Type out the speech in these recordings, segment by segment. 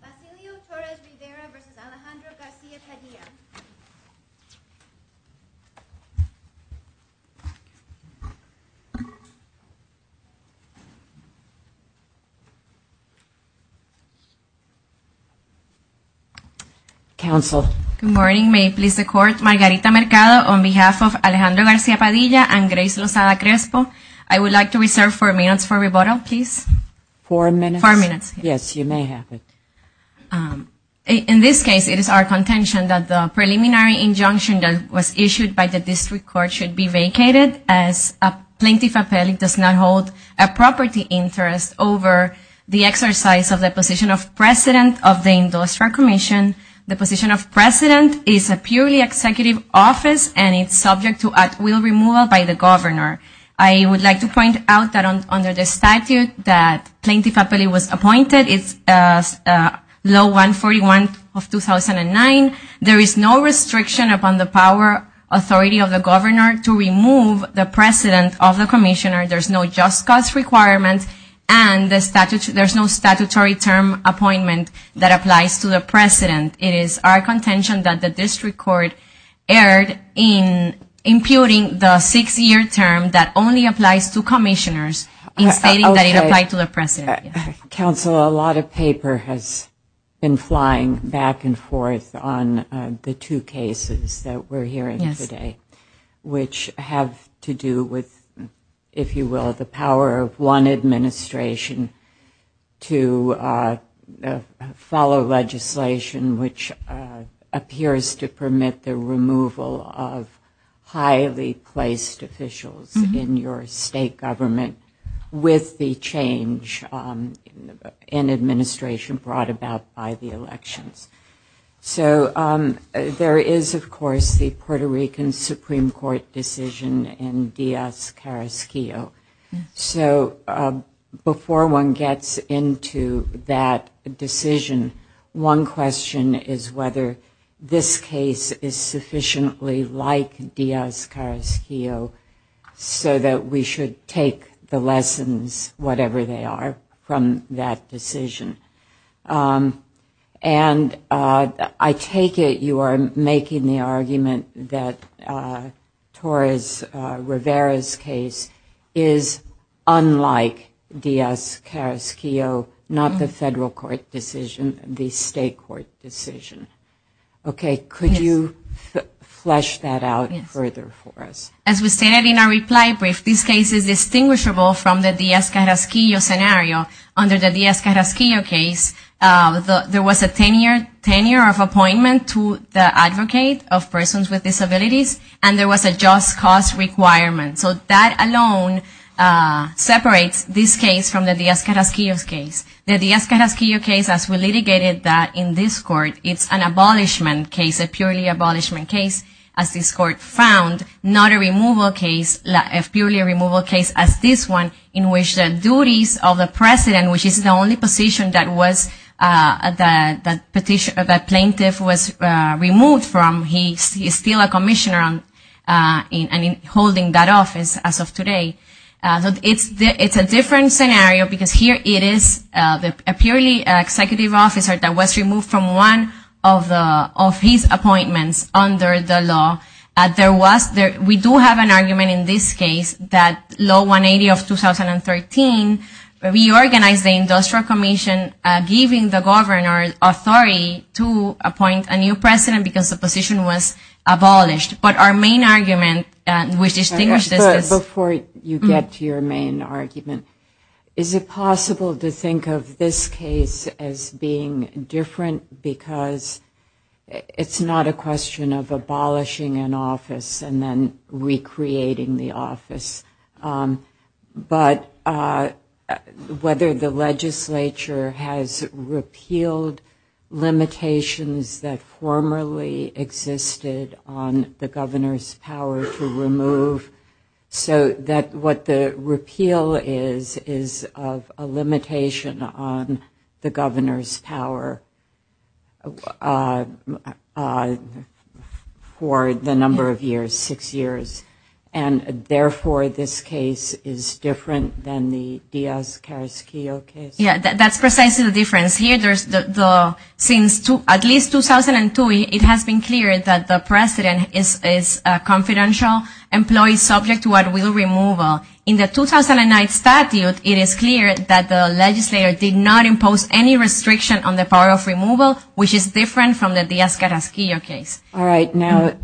Basilio Torres-Rivera v. Alejandro Garcia-Padilla Good morning. May it please the Court, Margarita Mercado, on behalf of Alejandro Garcia-Padilla and Grace Lozada-Crespo, I would like to reserve four minutes for rebuttal, please. Four minutes? Yes, you may have it. In this case, it is our contention that the preliminary injunction that was issued by the District Court should be vacated as a plaintiff appellee does not hold a property interest over the exercise of the position of president of the Industrial Commission. The position of president is a purely executive office and it's subject to at will removal by the governor. I would like to point out that under the statute that plaintiff appellee was appointed, it's law 141 of 2009, there is no restriction upon the power authority of the governor to remove the president of the commissioner. There's no just cause requirement and there's no statutory term appointment that applies to the president. It is our contention that the District Court erred in imputing the six-year term that only applies to commissioners in stating that it applied to the president. Counsel, a lot of paper has been flying back and forth on the two cases that we're hearing today, which have to do with, if you will, the power of one administration to follow legislation, which appears to permit the removal of highly placed officials in your state government with the change in administration brought about by the elections. So there is, of course, the Puerto Rican Supreme Court decision in Diaz-Carrasquillo. So before one gets into that decision, one question is whether this case is sufficiently like Diaz-Carrasquillo so that we should take the lessons, whatever they are, from that decision. And I take it you are making the argument that Torres Rivera's case is unlike Diaz-Carrasquillo, not the federal court decision, the state court decision. Okay, could you flesh that out further for us? As we stated in our reply brief, this case is distinguishable from the Diaz-Carrasquillo scenario. Under the Diaz-Carrasquillo case, there was a tenure of appointment to the advocate of persons with disabilities, and there was a just cause requirement. So that alone separates this case from the Diaz-Carrasquillo case. The Diaz-Carrasquillo case, as we litigated that in this court, it's an abolishment case, a purely abolishment case, as this court found, not a removal case, a purely removal case as this one, in which the duties of the president, which is the only position that plaintiff was removed from, he is still a commissioner holding that office as of today. It's a different scenario because here it is a purely executive officer that was removed from one of his appointments under the law. We do have an argument in this case that law 180 of 2013 reorganized the industrial commission, giving the governor authority to appoint a new president because the position was abolished. But our main argument, which distinguishes this is... Before you get to your main argument, is it possible to think of this case as being different because it's not a question of abolishing an office and then recreating the office, but whether the legislature has repealed limitations that formerly existed on the position of the governor. So that what the repeal is, is a limitation on the governor's power for the number of years, six years, and therefore this case is different than the Diaz-Carrasquillo case? Yeah, that's precisely the difference. Because here, since at least 2002, it has been clear that the president is a confidential employee subject to what will removal. In the 2009 statute, it is clear that the legislator did not impose any restriction on the power of removal, which is different from the Diaz-Carrasquillo case. All right, now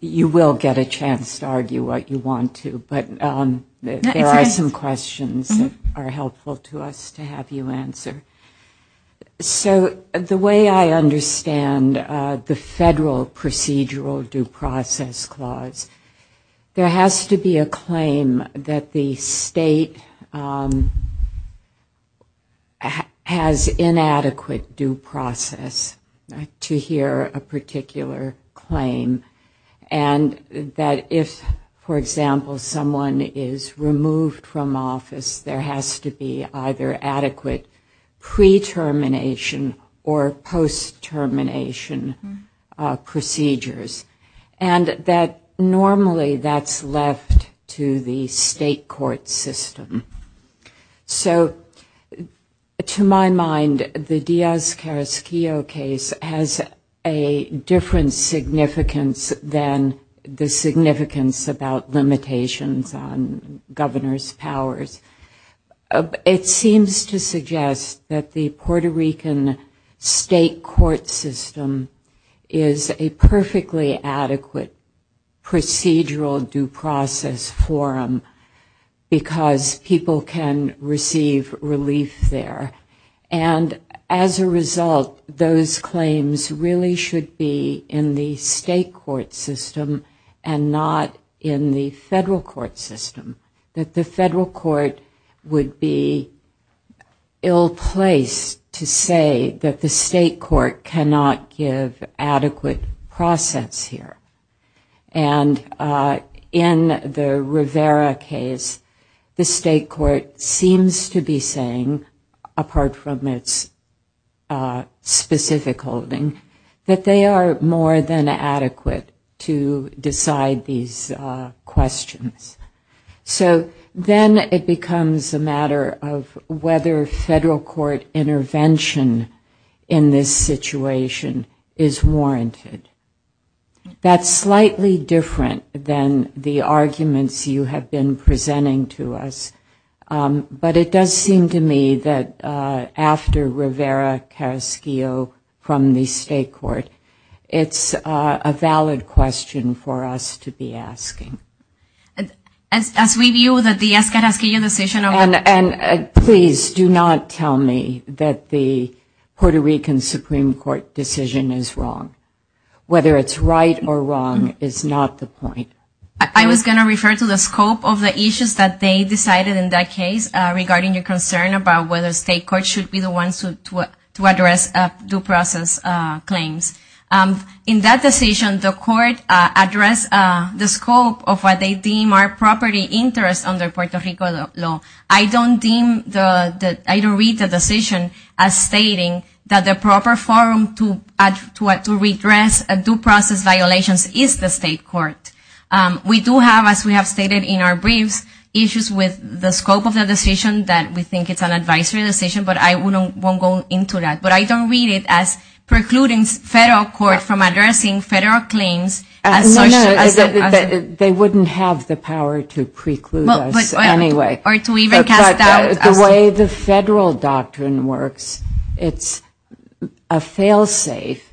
you will get a chance to argue what you want to, but there are some questions that are helpful to us to have you answer. So the way I understand the federal procedural due process clause, there has to be a claim that the state has inadequate due process to hear a particular claim. And that if, for example, someone is removed from office, there has to be either adequate due process or inadequate due process. And that normally that's left to the state court system. So to my mind, the Diaz-Carrasquillo case has a different significance than the significance about limitations on governor's powers. It seems to suggest that the Puerto Rican state court system is a perfectly adequate procedural due process forum, because people can receive relief there. And as a result, those claims really should be in the state court system and not in the federal court system. That the federal court would be ill-placed to say that the state court cannot give adequate process here. And in the Rivera case, the state court seems to be saying, apart from its specific holding, that they are more than adequate to decide these questions. So then it becomes a matter of whether federal court intervention in this situation is warranted. That's slightly different than the arguments you have been presenting to us. But it does seem to me that after Rivera-Carrasquillo from the state court, it's a valid question for us to be asking. And please do not tell me that the Puerto Rican Supreme Court decision is wrong. Whether it's right or wrong is not the point. I was going to refer to the scope of the issues that they decided in that case regarding the concern about whether state court should be the ones to address due process claims. In that decision, the court addressed the scope of what they deem are property interests under Puerto Rico law. I don't read the decision as stating that the proper forum to address due process violations is the state court. We do have, as we have stated in our briefs, issues with the scope of the decision that we think it's an advisory decision, but I won't go into that. But I don't read it as precluding federal court from addressing federal claims. They wouldn't have the power to preclude us anyway. The way the federal doctrine works, it's a fail-safe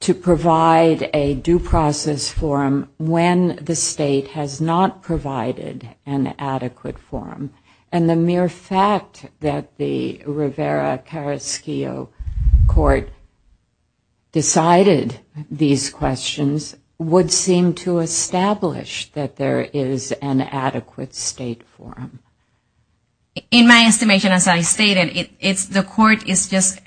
to provide a due process forum when the state has not provided an adequate forum. And the mere fact that the Rivera-Carrasquillo court decided these questions would seem to establish that there is an adequate state forum. In my estimation, as I stated, the court is just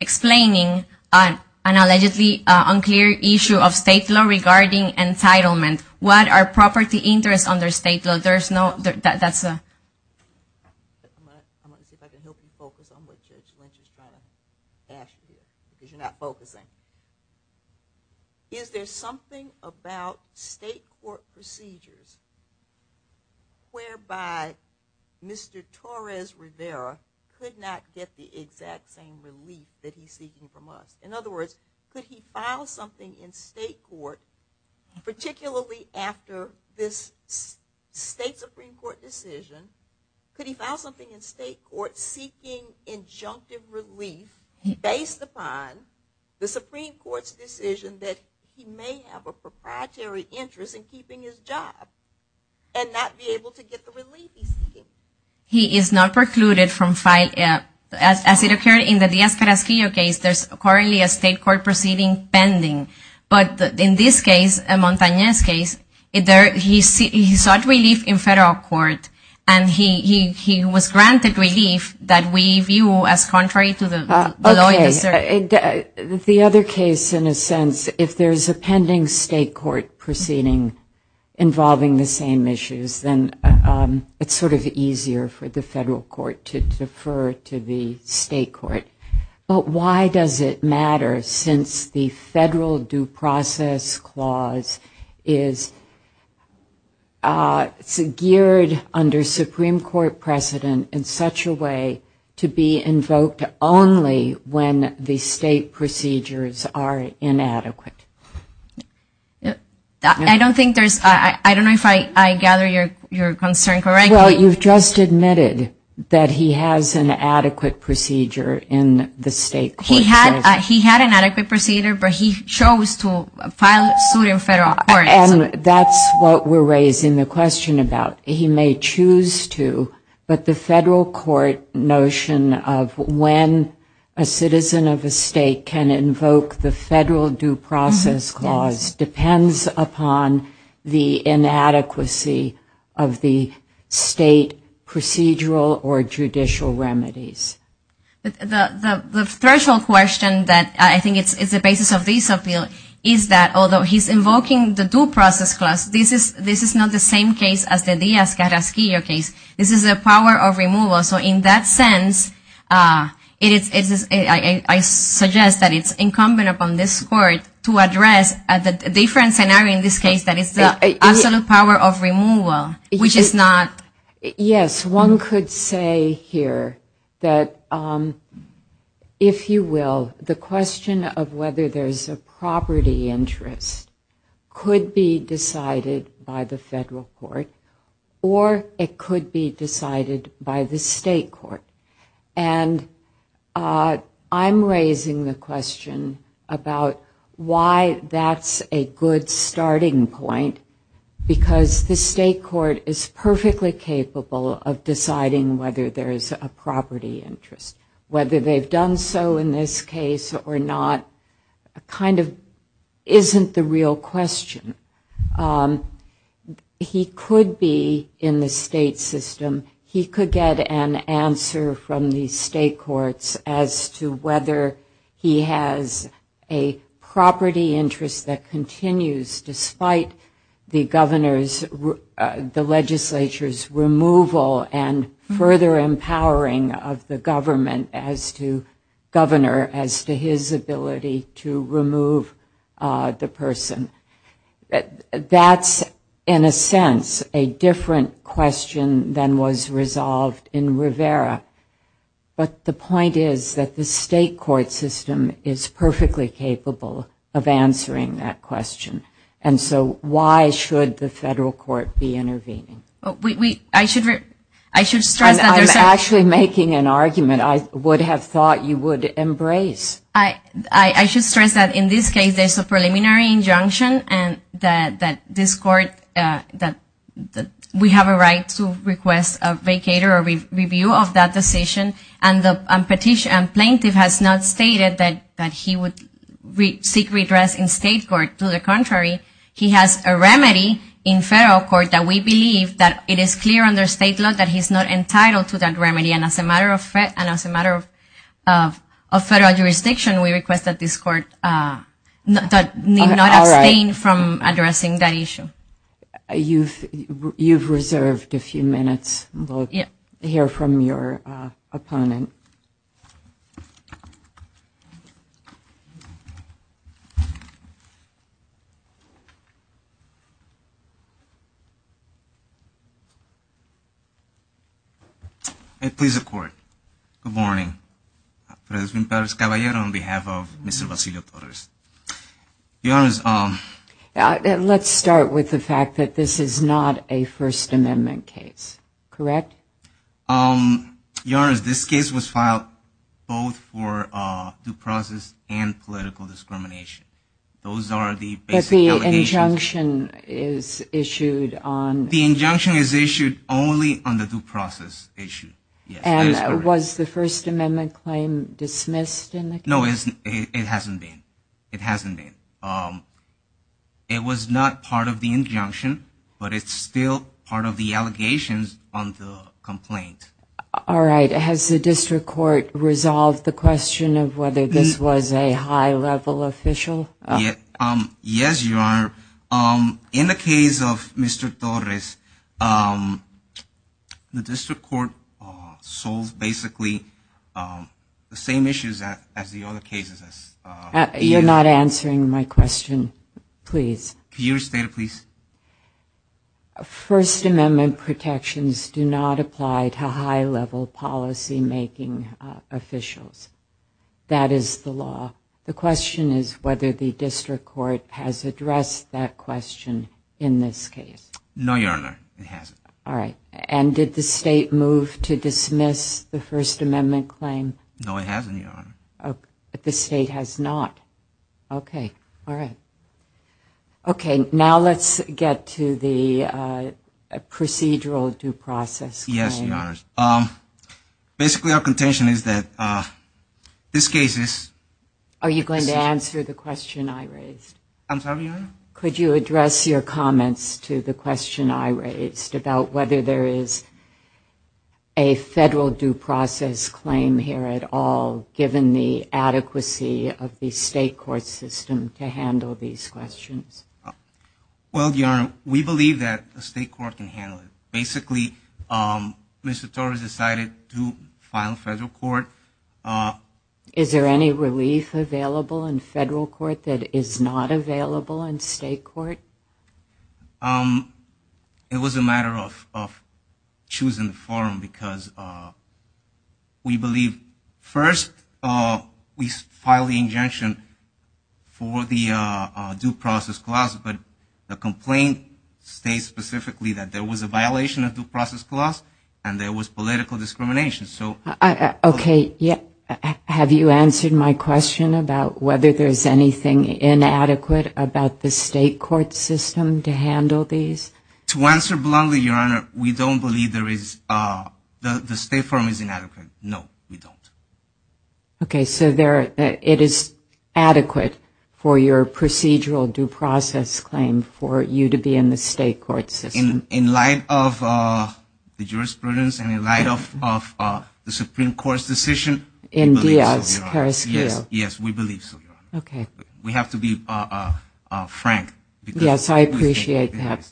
explaining an allegedly unclear issue of state law regarding entitlement. What are property interests under state law? Is there something about state court procedures whereby Mr. Torres Rivera could not get the exact same relief that he's seeking from us? In other words, could he file something in state court, particularly after this state Supreme Court decision, could he file something in state court seeking injunctive relief based upon the Supreme Court's decision that he may have a proprietary interest in keeping his job and not be able to get the relief he's seeking? He is not precluded from filing, as it occurred in the Diaz-Carrasquillo case, there's currently a state court proceeding pending. But in this case, Montañez's case, he sought relief in federal court and he was granted relief that we view as contrary to the law. Okay. The other case, in a sense, if there's a pending state court proceeding involving the same issues, then it's sort of easier for the federal court to defer to the state court. But why does it matter, since the federal due process clause is geared under Supreme Court precedent in such a way to be invoked only when the Supreme Court's decision is made? I don't know if I gather your concern correctly. Well, you've just admitted that he has an adequate procedure in the state court. He had an adequate procedure, but he chose to file a suit in federal court. And that's what we're raising the question about. He may choose to, but the federal court notion of when a citizen of a state can invoke the federal due process clause depends upon the inadequacy of the state procedural or judicial remedies. The threshold question that I think is the basis of this appeal is that although he's invoking the due process clause, this is not the same case as the Diaz-Carrasquillo case. This is a power of removal. So in that sense, I suggest that it's incumbent upon this court to address the different scenario in this case that is the absolute power of removal, which is not... Yes, one could say here that, if you will, the question of whether there's a property interest could be decided by the federal court. Or it could be decided by the state court. And I'm raising the question about why that's a good starting point, because the state court is perfectly capable of deciding whether there's a property interest. Whether they've done so in this case or not kind of isn't the real question. He could be in the state system. He could get an answer from the state courts as to whether he has a property interest that continues despite the legislature's removal and further empowering of the government as to governor, as to his ability to remove the person. That's, in a sense, a different question than was resolved in Rivera. But the point is that the state court system is perfectly capable of answering that question. And so why should the federal court be intervening? I'm actually making an argument I would have thought you would embrace. I should stress that in this case there's a preliminary injunction and that this court, that we have a right to request a vacater or review of that decision. And the plaintiff has not stated that he would seek redress in state court. To the contrary, he has a remedy in federal court that we believe that it is clear under state law that he's not entitled to that remedy. And as a matter of federal jurisdiction, we request that this court not abstain from addressing that issue. You've reserved a few minutes. We'll hear from your opponent. Good morning. Let's start with the fact that this is not a First Amendment case, correct? Your Honor, this case was filed both for due process and political discrimination. But the injunction is issued on... And was the First Amendment claim dismissed in the case? No, it hasn't been. It was not part of the injunction, but it's still part of the allegations on the complaint. All right. Has the district court resolved the question of whether this was a high-level official? Yes, Your Honor. In the case of Mr. Torres, the district court solved basically the same issues as the other cases. You're not answering my question, please. First Amendment protections do not apply to high-level policy-making officials. That is the law. The question is whether the district court has addressed that question in this case. No, Your Honor, it hasn't. And did the state move to dismiss the First Amendment claim? No, it hasn't, Your Honor. Now let's get to the procedural due process claim. Yes, Your Honor. Basically, our contention is that this case is... Are you going to answer the question I raised? I'm sorry, Your Honor? Could you address your comments to the question I raised about whether there is a federal due process claim here at all, given the adequacy of the state court system to handle these questions? Well, Your Honor, we believe that the state court can handle it. Basically, Mr. Torres decided to file a federal court. Is there any relief available in federal court that is not available in state court? It was a matter of choosing the forum, because we believe... The complaint states specifically that there was a violation of due process clause and there was political discrimination. Okay, have you answered my question about whether there is anything inadequate about the state court system to handle these? To answer bluntly, Your Honor, we don't believe there is... The state forum is inadequate. Okay, so it is adequate for your procedural due process claim for you to be in the state court system? In light of the jurisprudence and in light of the Supreme Court's decision, we believe so, Your Honor. Yes, we believe so, Your Honor. We have to be frank. Yes, I appreciate that.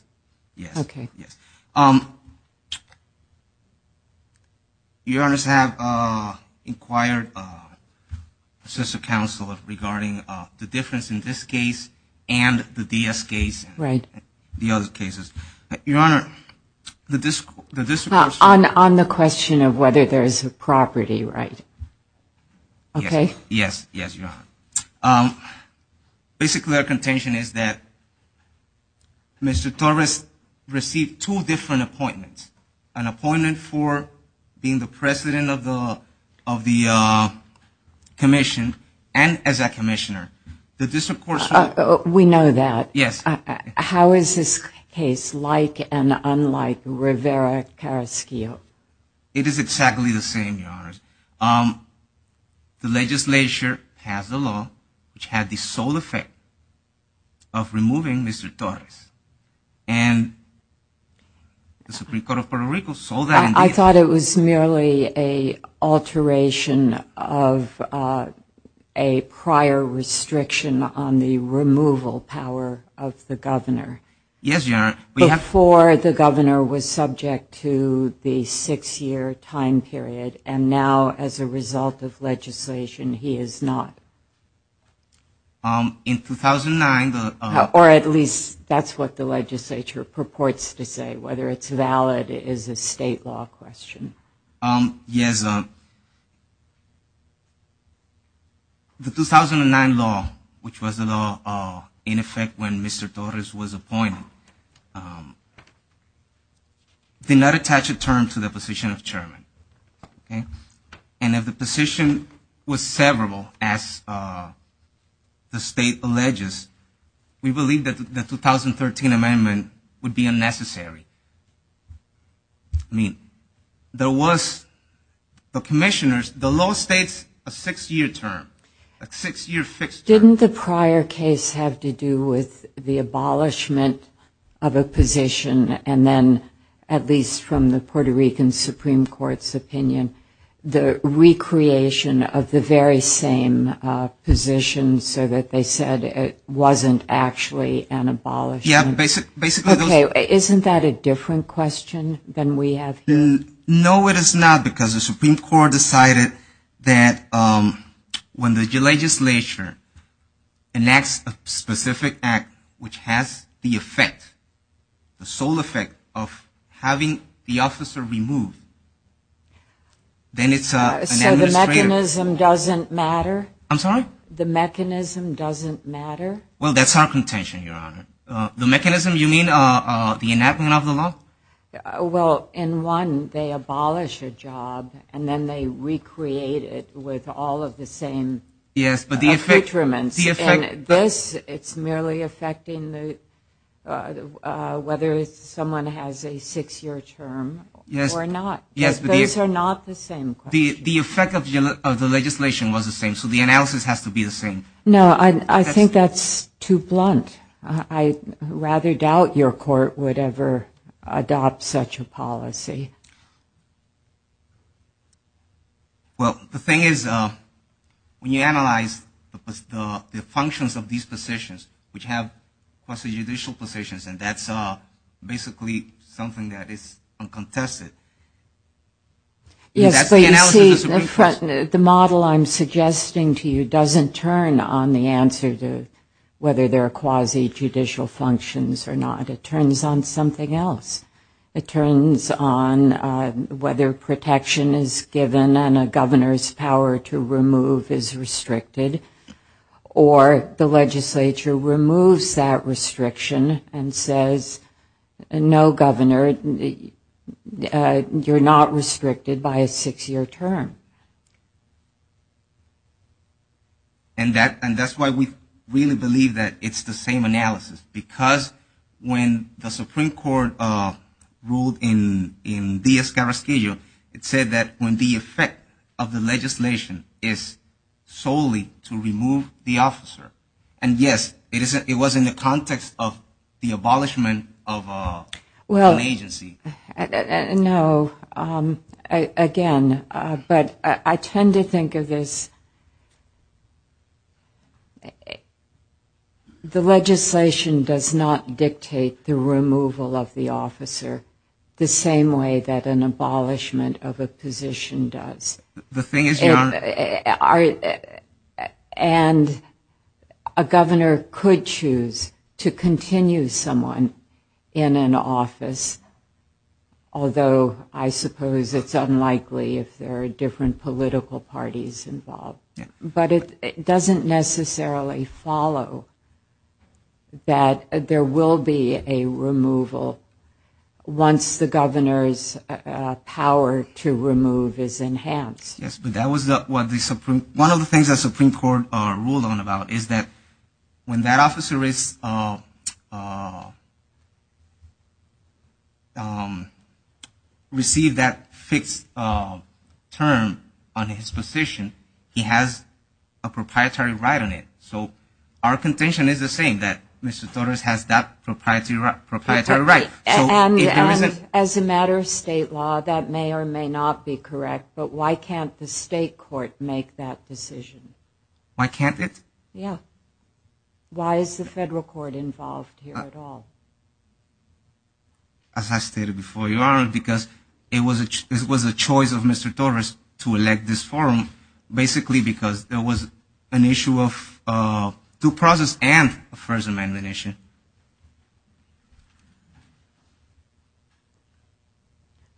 Your Honor, I have inquired a sister counsel regarding the difference in this case and the DS case and the other cases. On the question of whether there is a property, right? Yes, Your Honor. Basically, our contention is that Mr. Torres received two different appointments. An appointment for being the president of the commission and as a commissioner. We know that. How is this case like and unlike Rivera-Carrasquillo? It is exactly the same, Your Honor. The legislature passed a law which had the sole effect of removing Mr. Torres. I thought it was merely an alteration of a prior restriction on the removal power of Mr. Torres. Yes, Your Honor. Before the governor was subject to the six-year time period and now as a result of legislation, he is not. Or at least that's what the legislature purports to say. Whether it's valid is a state law question. Yes, the 2009 law, which was the law in effect when Mr. Torres was appointed, did not attach a term to the position of chairman. And if the position was severable, as the state alleges, we believe that the 2013 amendment would be unnecessary. I mean, there was, the commissioners, the law states a six-year term, a six-year fixed term. Didn't the prior case have to do with the abolishment of a position and then at least from the Puerto Rican Supreme Court's opinion, the recreation of the very same position so that they said it wasn't actually an abolishment? Okay, isn't that a different question than we have here? No, it is not, because the Supreme Court decided that when the legislature enacts a specific act which has the effect, the sole effect of having the officer removed, then it's an administrative... So the mechanism doesn't matter? I'm sorry? The mechanism doesn't matter? Well, that's our contention, Your Honor. The mechanism, you mean the enactment of the law? Well, in one, they abolish a job and then they recreate it with all of the same... Yes, but the effect... The analysis has to be the same. No, I think that's too blunt. I rather doubt your court would ever adopt such a policy. Well, the thing is, when you analyze the functions of these positions, which have judicial positions, and that's basically something that is uncontested. Yes, but you see, the model I'm suggesting to you doesn't turn on the answer to whether there are quasi-judicial functions or not. It turns on something else. It turns on whether protection is given and a governor's power to remove is restricted, or the legislature removes that restriction and says, no governor, you're not restricted by a six-year term. And that's why we really believe that it's the same analysis, because when the Supreme Court ruled in the Escarroquillo, it said that when the effect of the legislation is solely to remove the officer, and yes, it was in the context of the abolishment of an agency. No, again, but I tend to think of this... The legislation does not dictate the removal of the officer the same way that an abolishment of a position does. The thing is, Your Honor... And a governor could choose to continue someone in an office, although I suppose it's unlikely if there are different political parties involved. But it doesn't necessarily follow that there will be a removal once the governor's power to remove is enhanced. Yes, but that was one of the things that the Supreme Court ruled on about, is that when that officer is... Received that fixed term on his position, he has a proprietary right on it. So our contention is the same, that Mr. Torres has that proprietary right. And as a matter of state law, that may or may not be correct, but why can't the state court make that decision? Why can't it? Yeah. Why is the federal court involved here at all? As I stated before, Your Honor, because it was a choice of Mr. Torres to elect this forum, basically because there was an issue of due process and a First Amendment issue.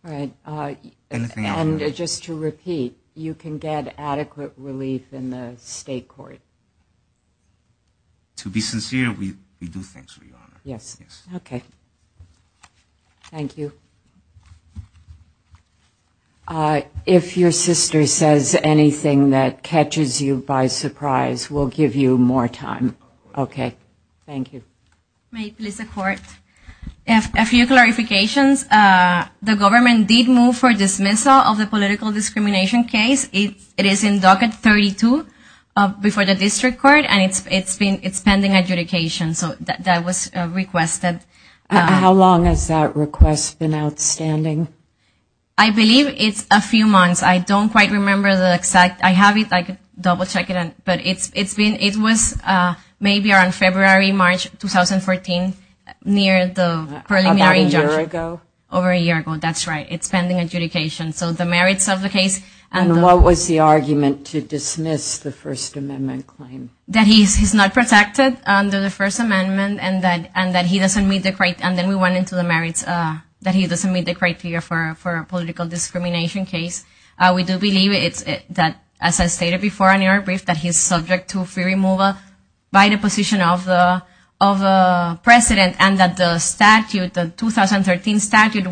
And just to repeat, you can get adequate relief in the state court? To be sincere, we do, Your Honor. Thank you. If your sister says anything that catches you by surprise, we'll give you more time. Okay. Thank you. A few clarifications. The government did move for dismissal of the political discrimination case. It is in docket 32 before the district court, and it's pending adjudication, so that was requested. How long has that request been outstanding? I believe it's a few months. I don't quite remember the exact. I have it. I can double check it. But it's been, it was maybe around February, March 2014, near the preliminary judgment. About a year ago? Over a year ago. That's right. It's pending adjudication. So the merits of the case. And what was the argument to dismiss the First Amendment claim? That he's not protected under the First Amendment, and that he doesn't meet the, and then we went into the merits, that he doesn't meet the criteria for a political discrimination case. We do believe that, as I stated before in your brief, that he's subject to free removal by the position of the president, and that the statute, the 2013 statute,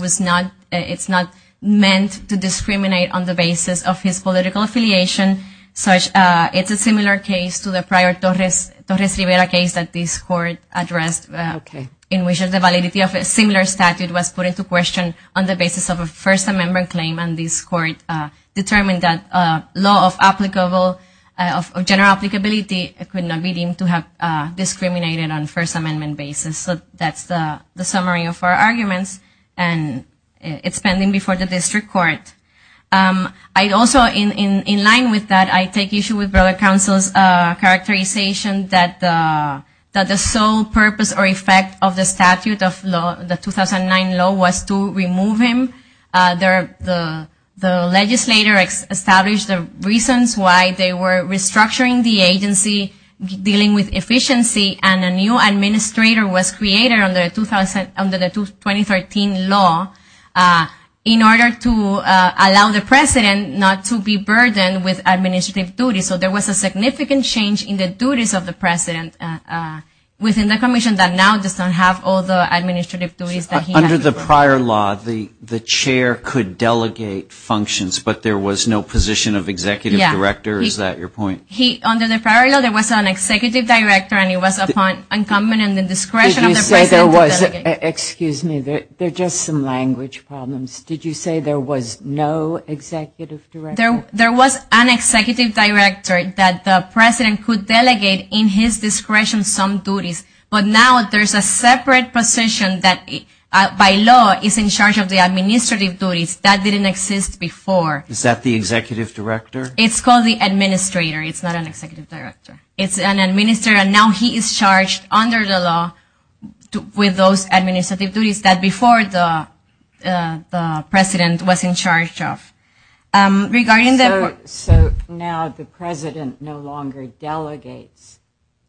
it's not meant to discriminate on the basis of the merits. It's meant to discriminate on the basis of his political affiliation, such, it's a similar case to the prior Torres Rivera case that this court addressed. Okay. In which the validity of a similar statute was put into question on the basis of a First Amendment claim, and this court determined that law of applicable, of general applicability could not be deemed to have discriminated on First Amendment basis. So that's the summary of our arguments, and it's pending before the district court. All right. Also, in line with that, I take issue with brother counsel's characterization that the sole purpose or effect of the statute of the 2009 law was to remove him. The legislator established the reasons why they were restructuring the agency, dealing with efficiency, and a new administrator was created under the 2013 law in order to allow the president, not the president, but the legislature to be able to remove him. So there was a significant change in the duties of the president within the commission that now does not have all the administrative duties that he had. Under the prior law, the chair could delegate functions, but there was no position of executive director. Is that your point? Yeah. Under the prior law, there was an executive director, and it was upon incumbent and the discretion of the president to delegate. Excuse me. There are just some language problems. Did you say there was no executive director? There was an executive director that the president could delegate in his discretion some duties, but now there's a separate position that by law is in charge of the administrative duties. That didn't exist before. Is that the executive director? It's called the administrator. It's not an executive director. It's an administrator, and now he is charged under the law with those administrative duties that before the president was in charge of. So now the president no longer delegates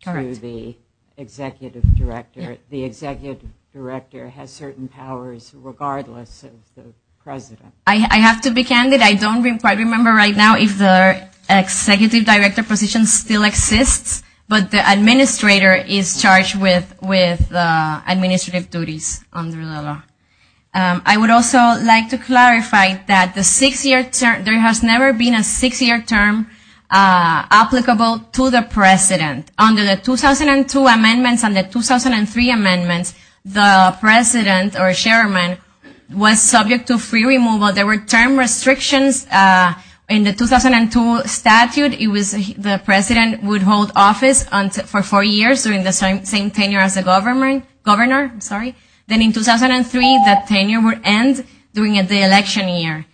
to the executive director. The executive director has certain powers regardless of the president. I have to be candid. I don't quite remember right now if the executive director position still exists, but the administrator is charged with administrative duties under the law. I would also like to clarify that the six-year term, there has never been a six-year term applicable to the president. Under the 2002 amendments and the 2003 amendments, the president or chairman was subject to free removal of the executive director. So there were term restrictions. In the 2002 statute, the president would hold office for four years during the same tenure as the governor. Then in 2003, that tenure would end during the election year.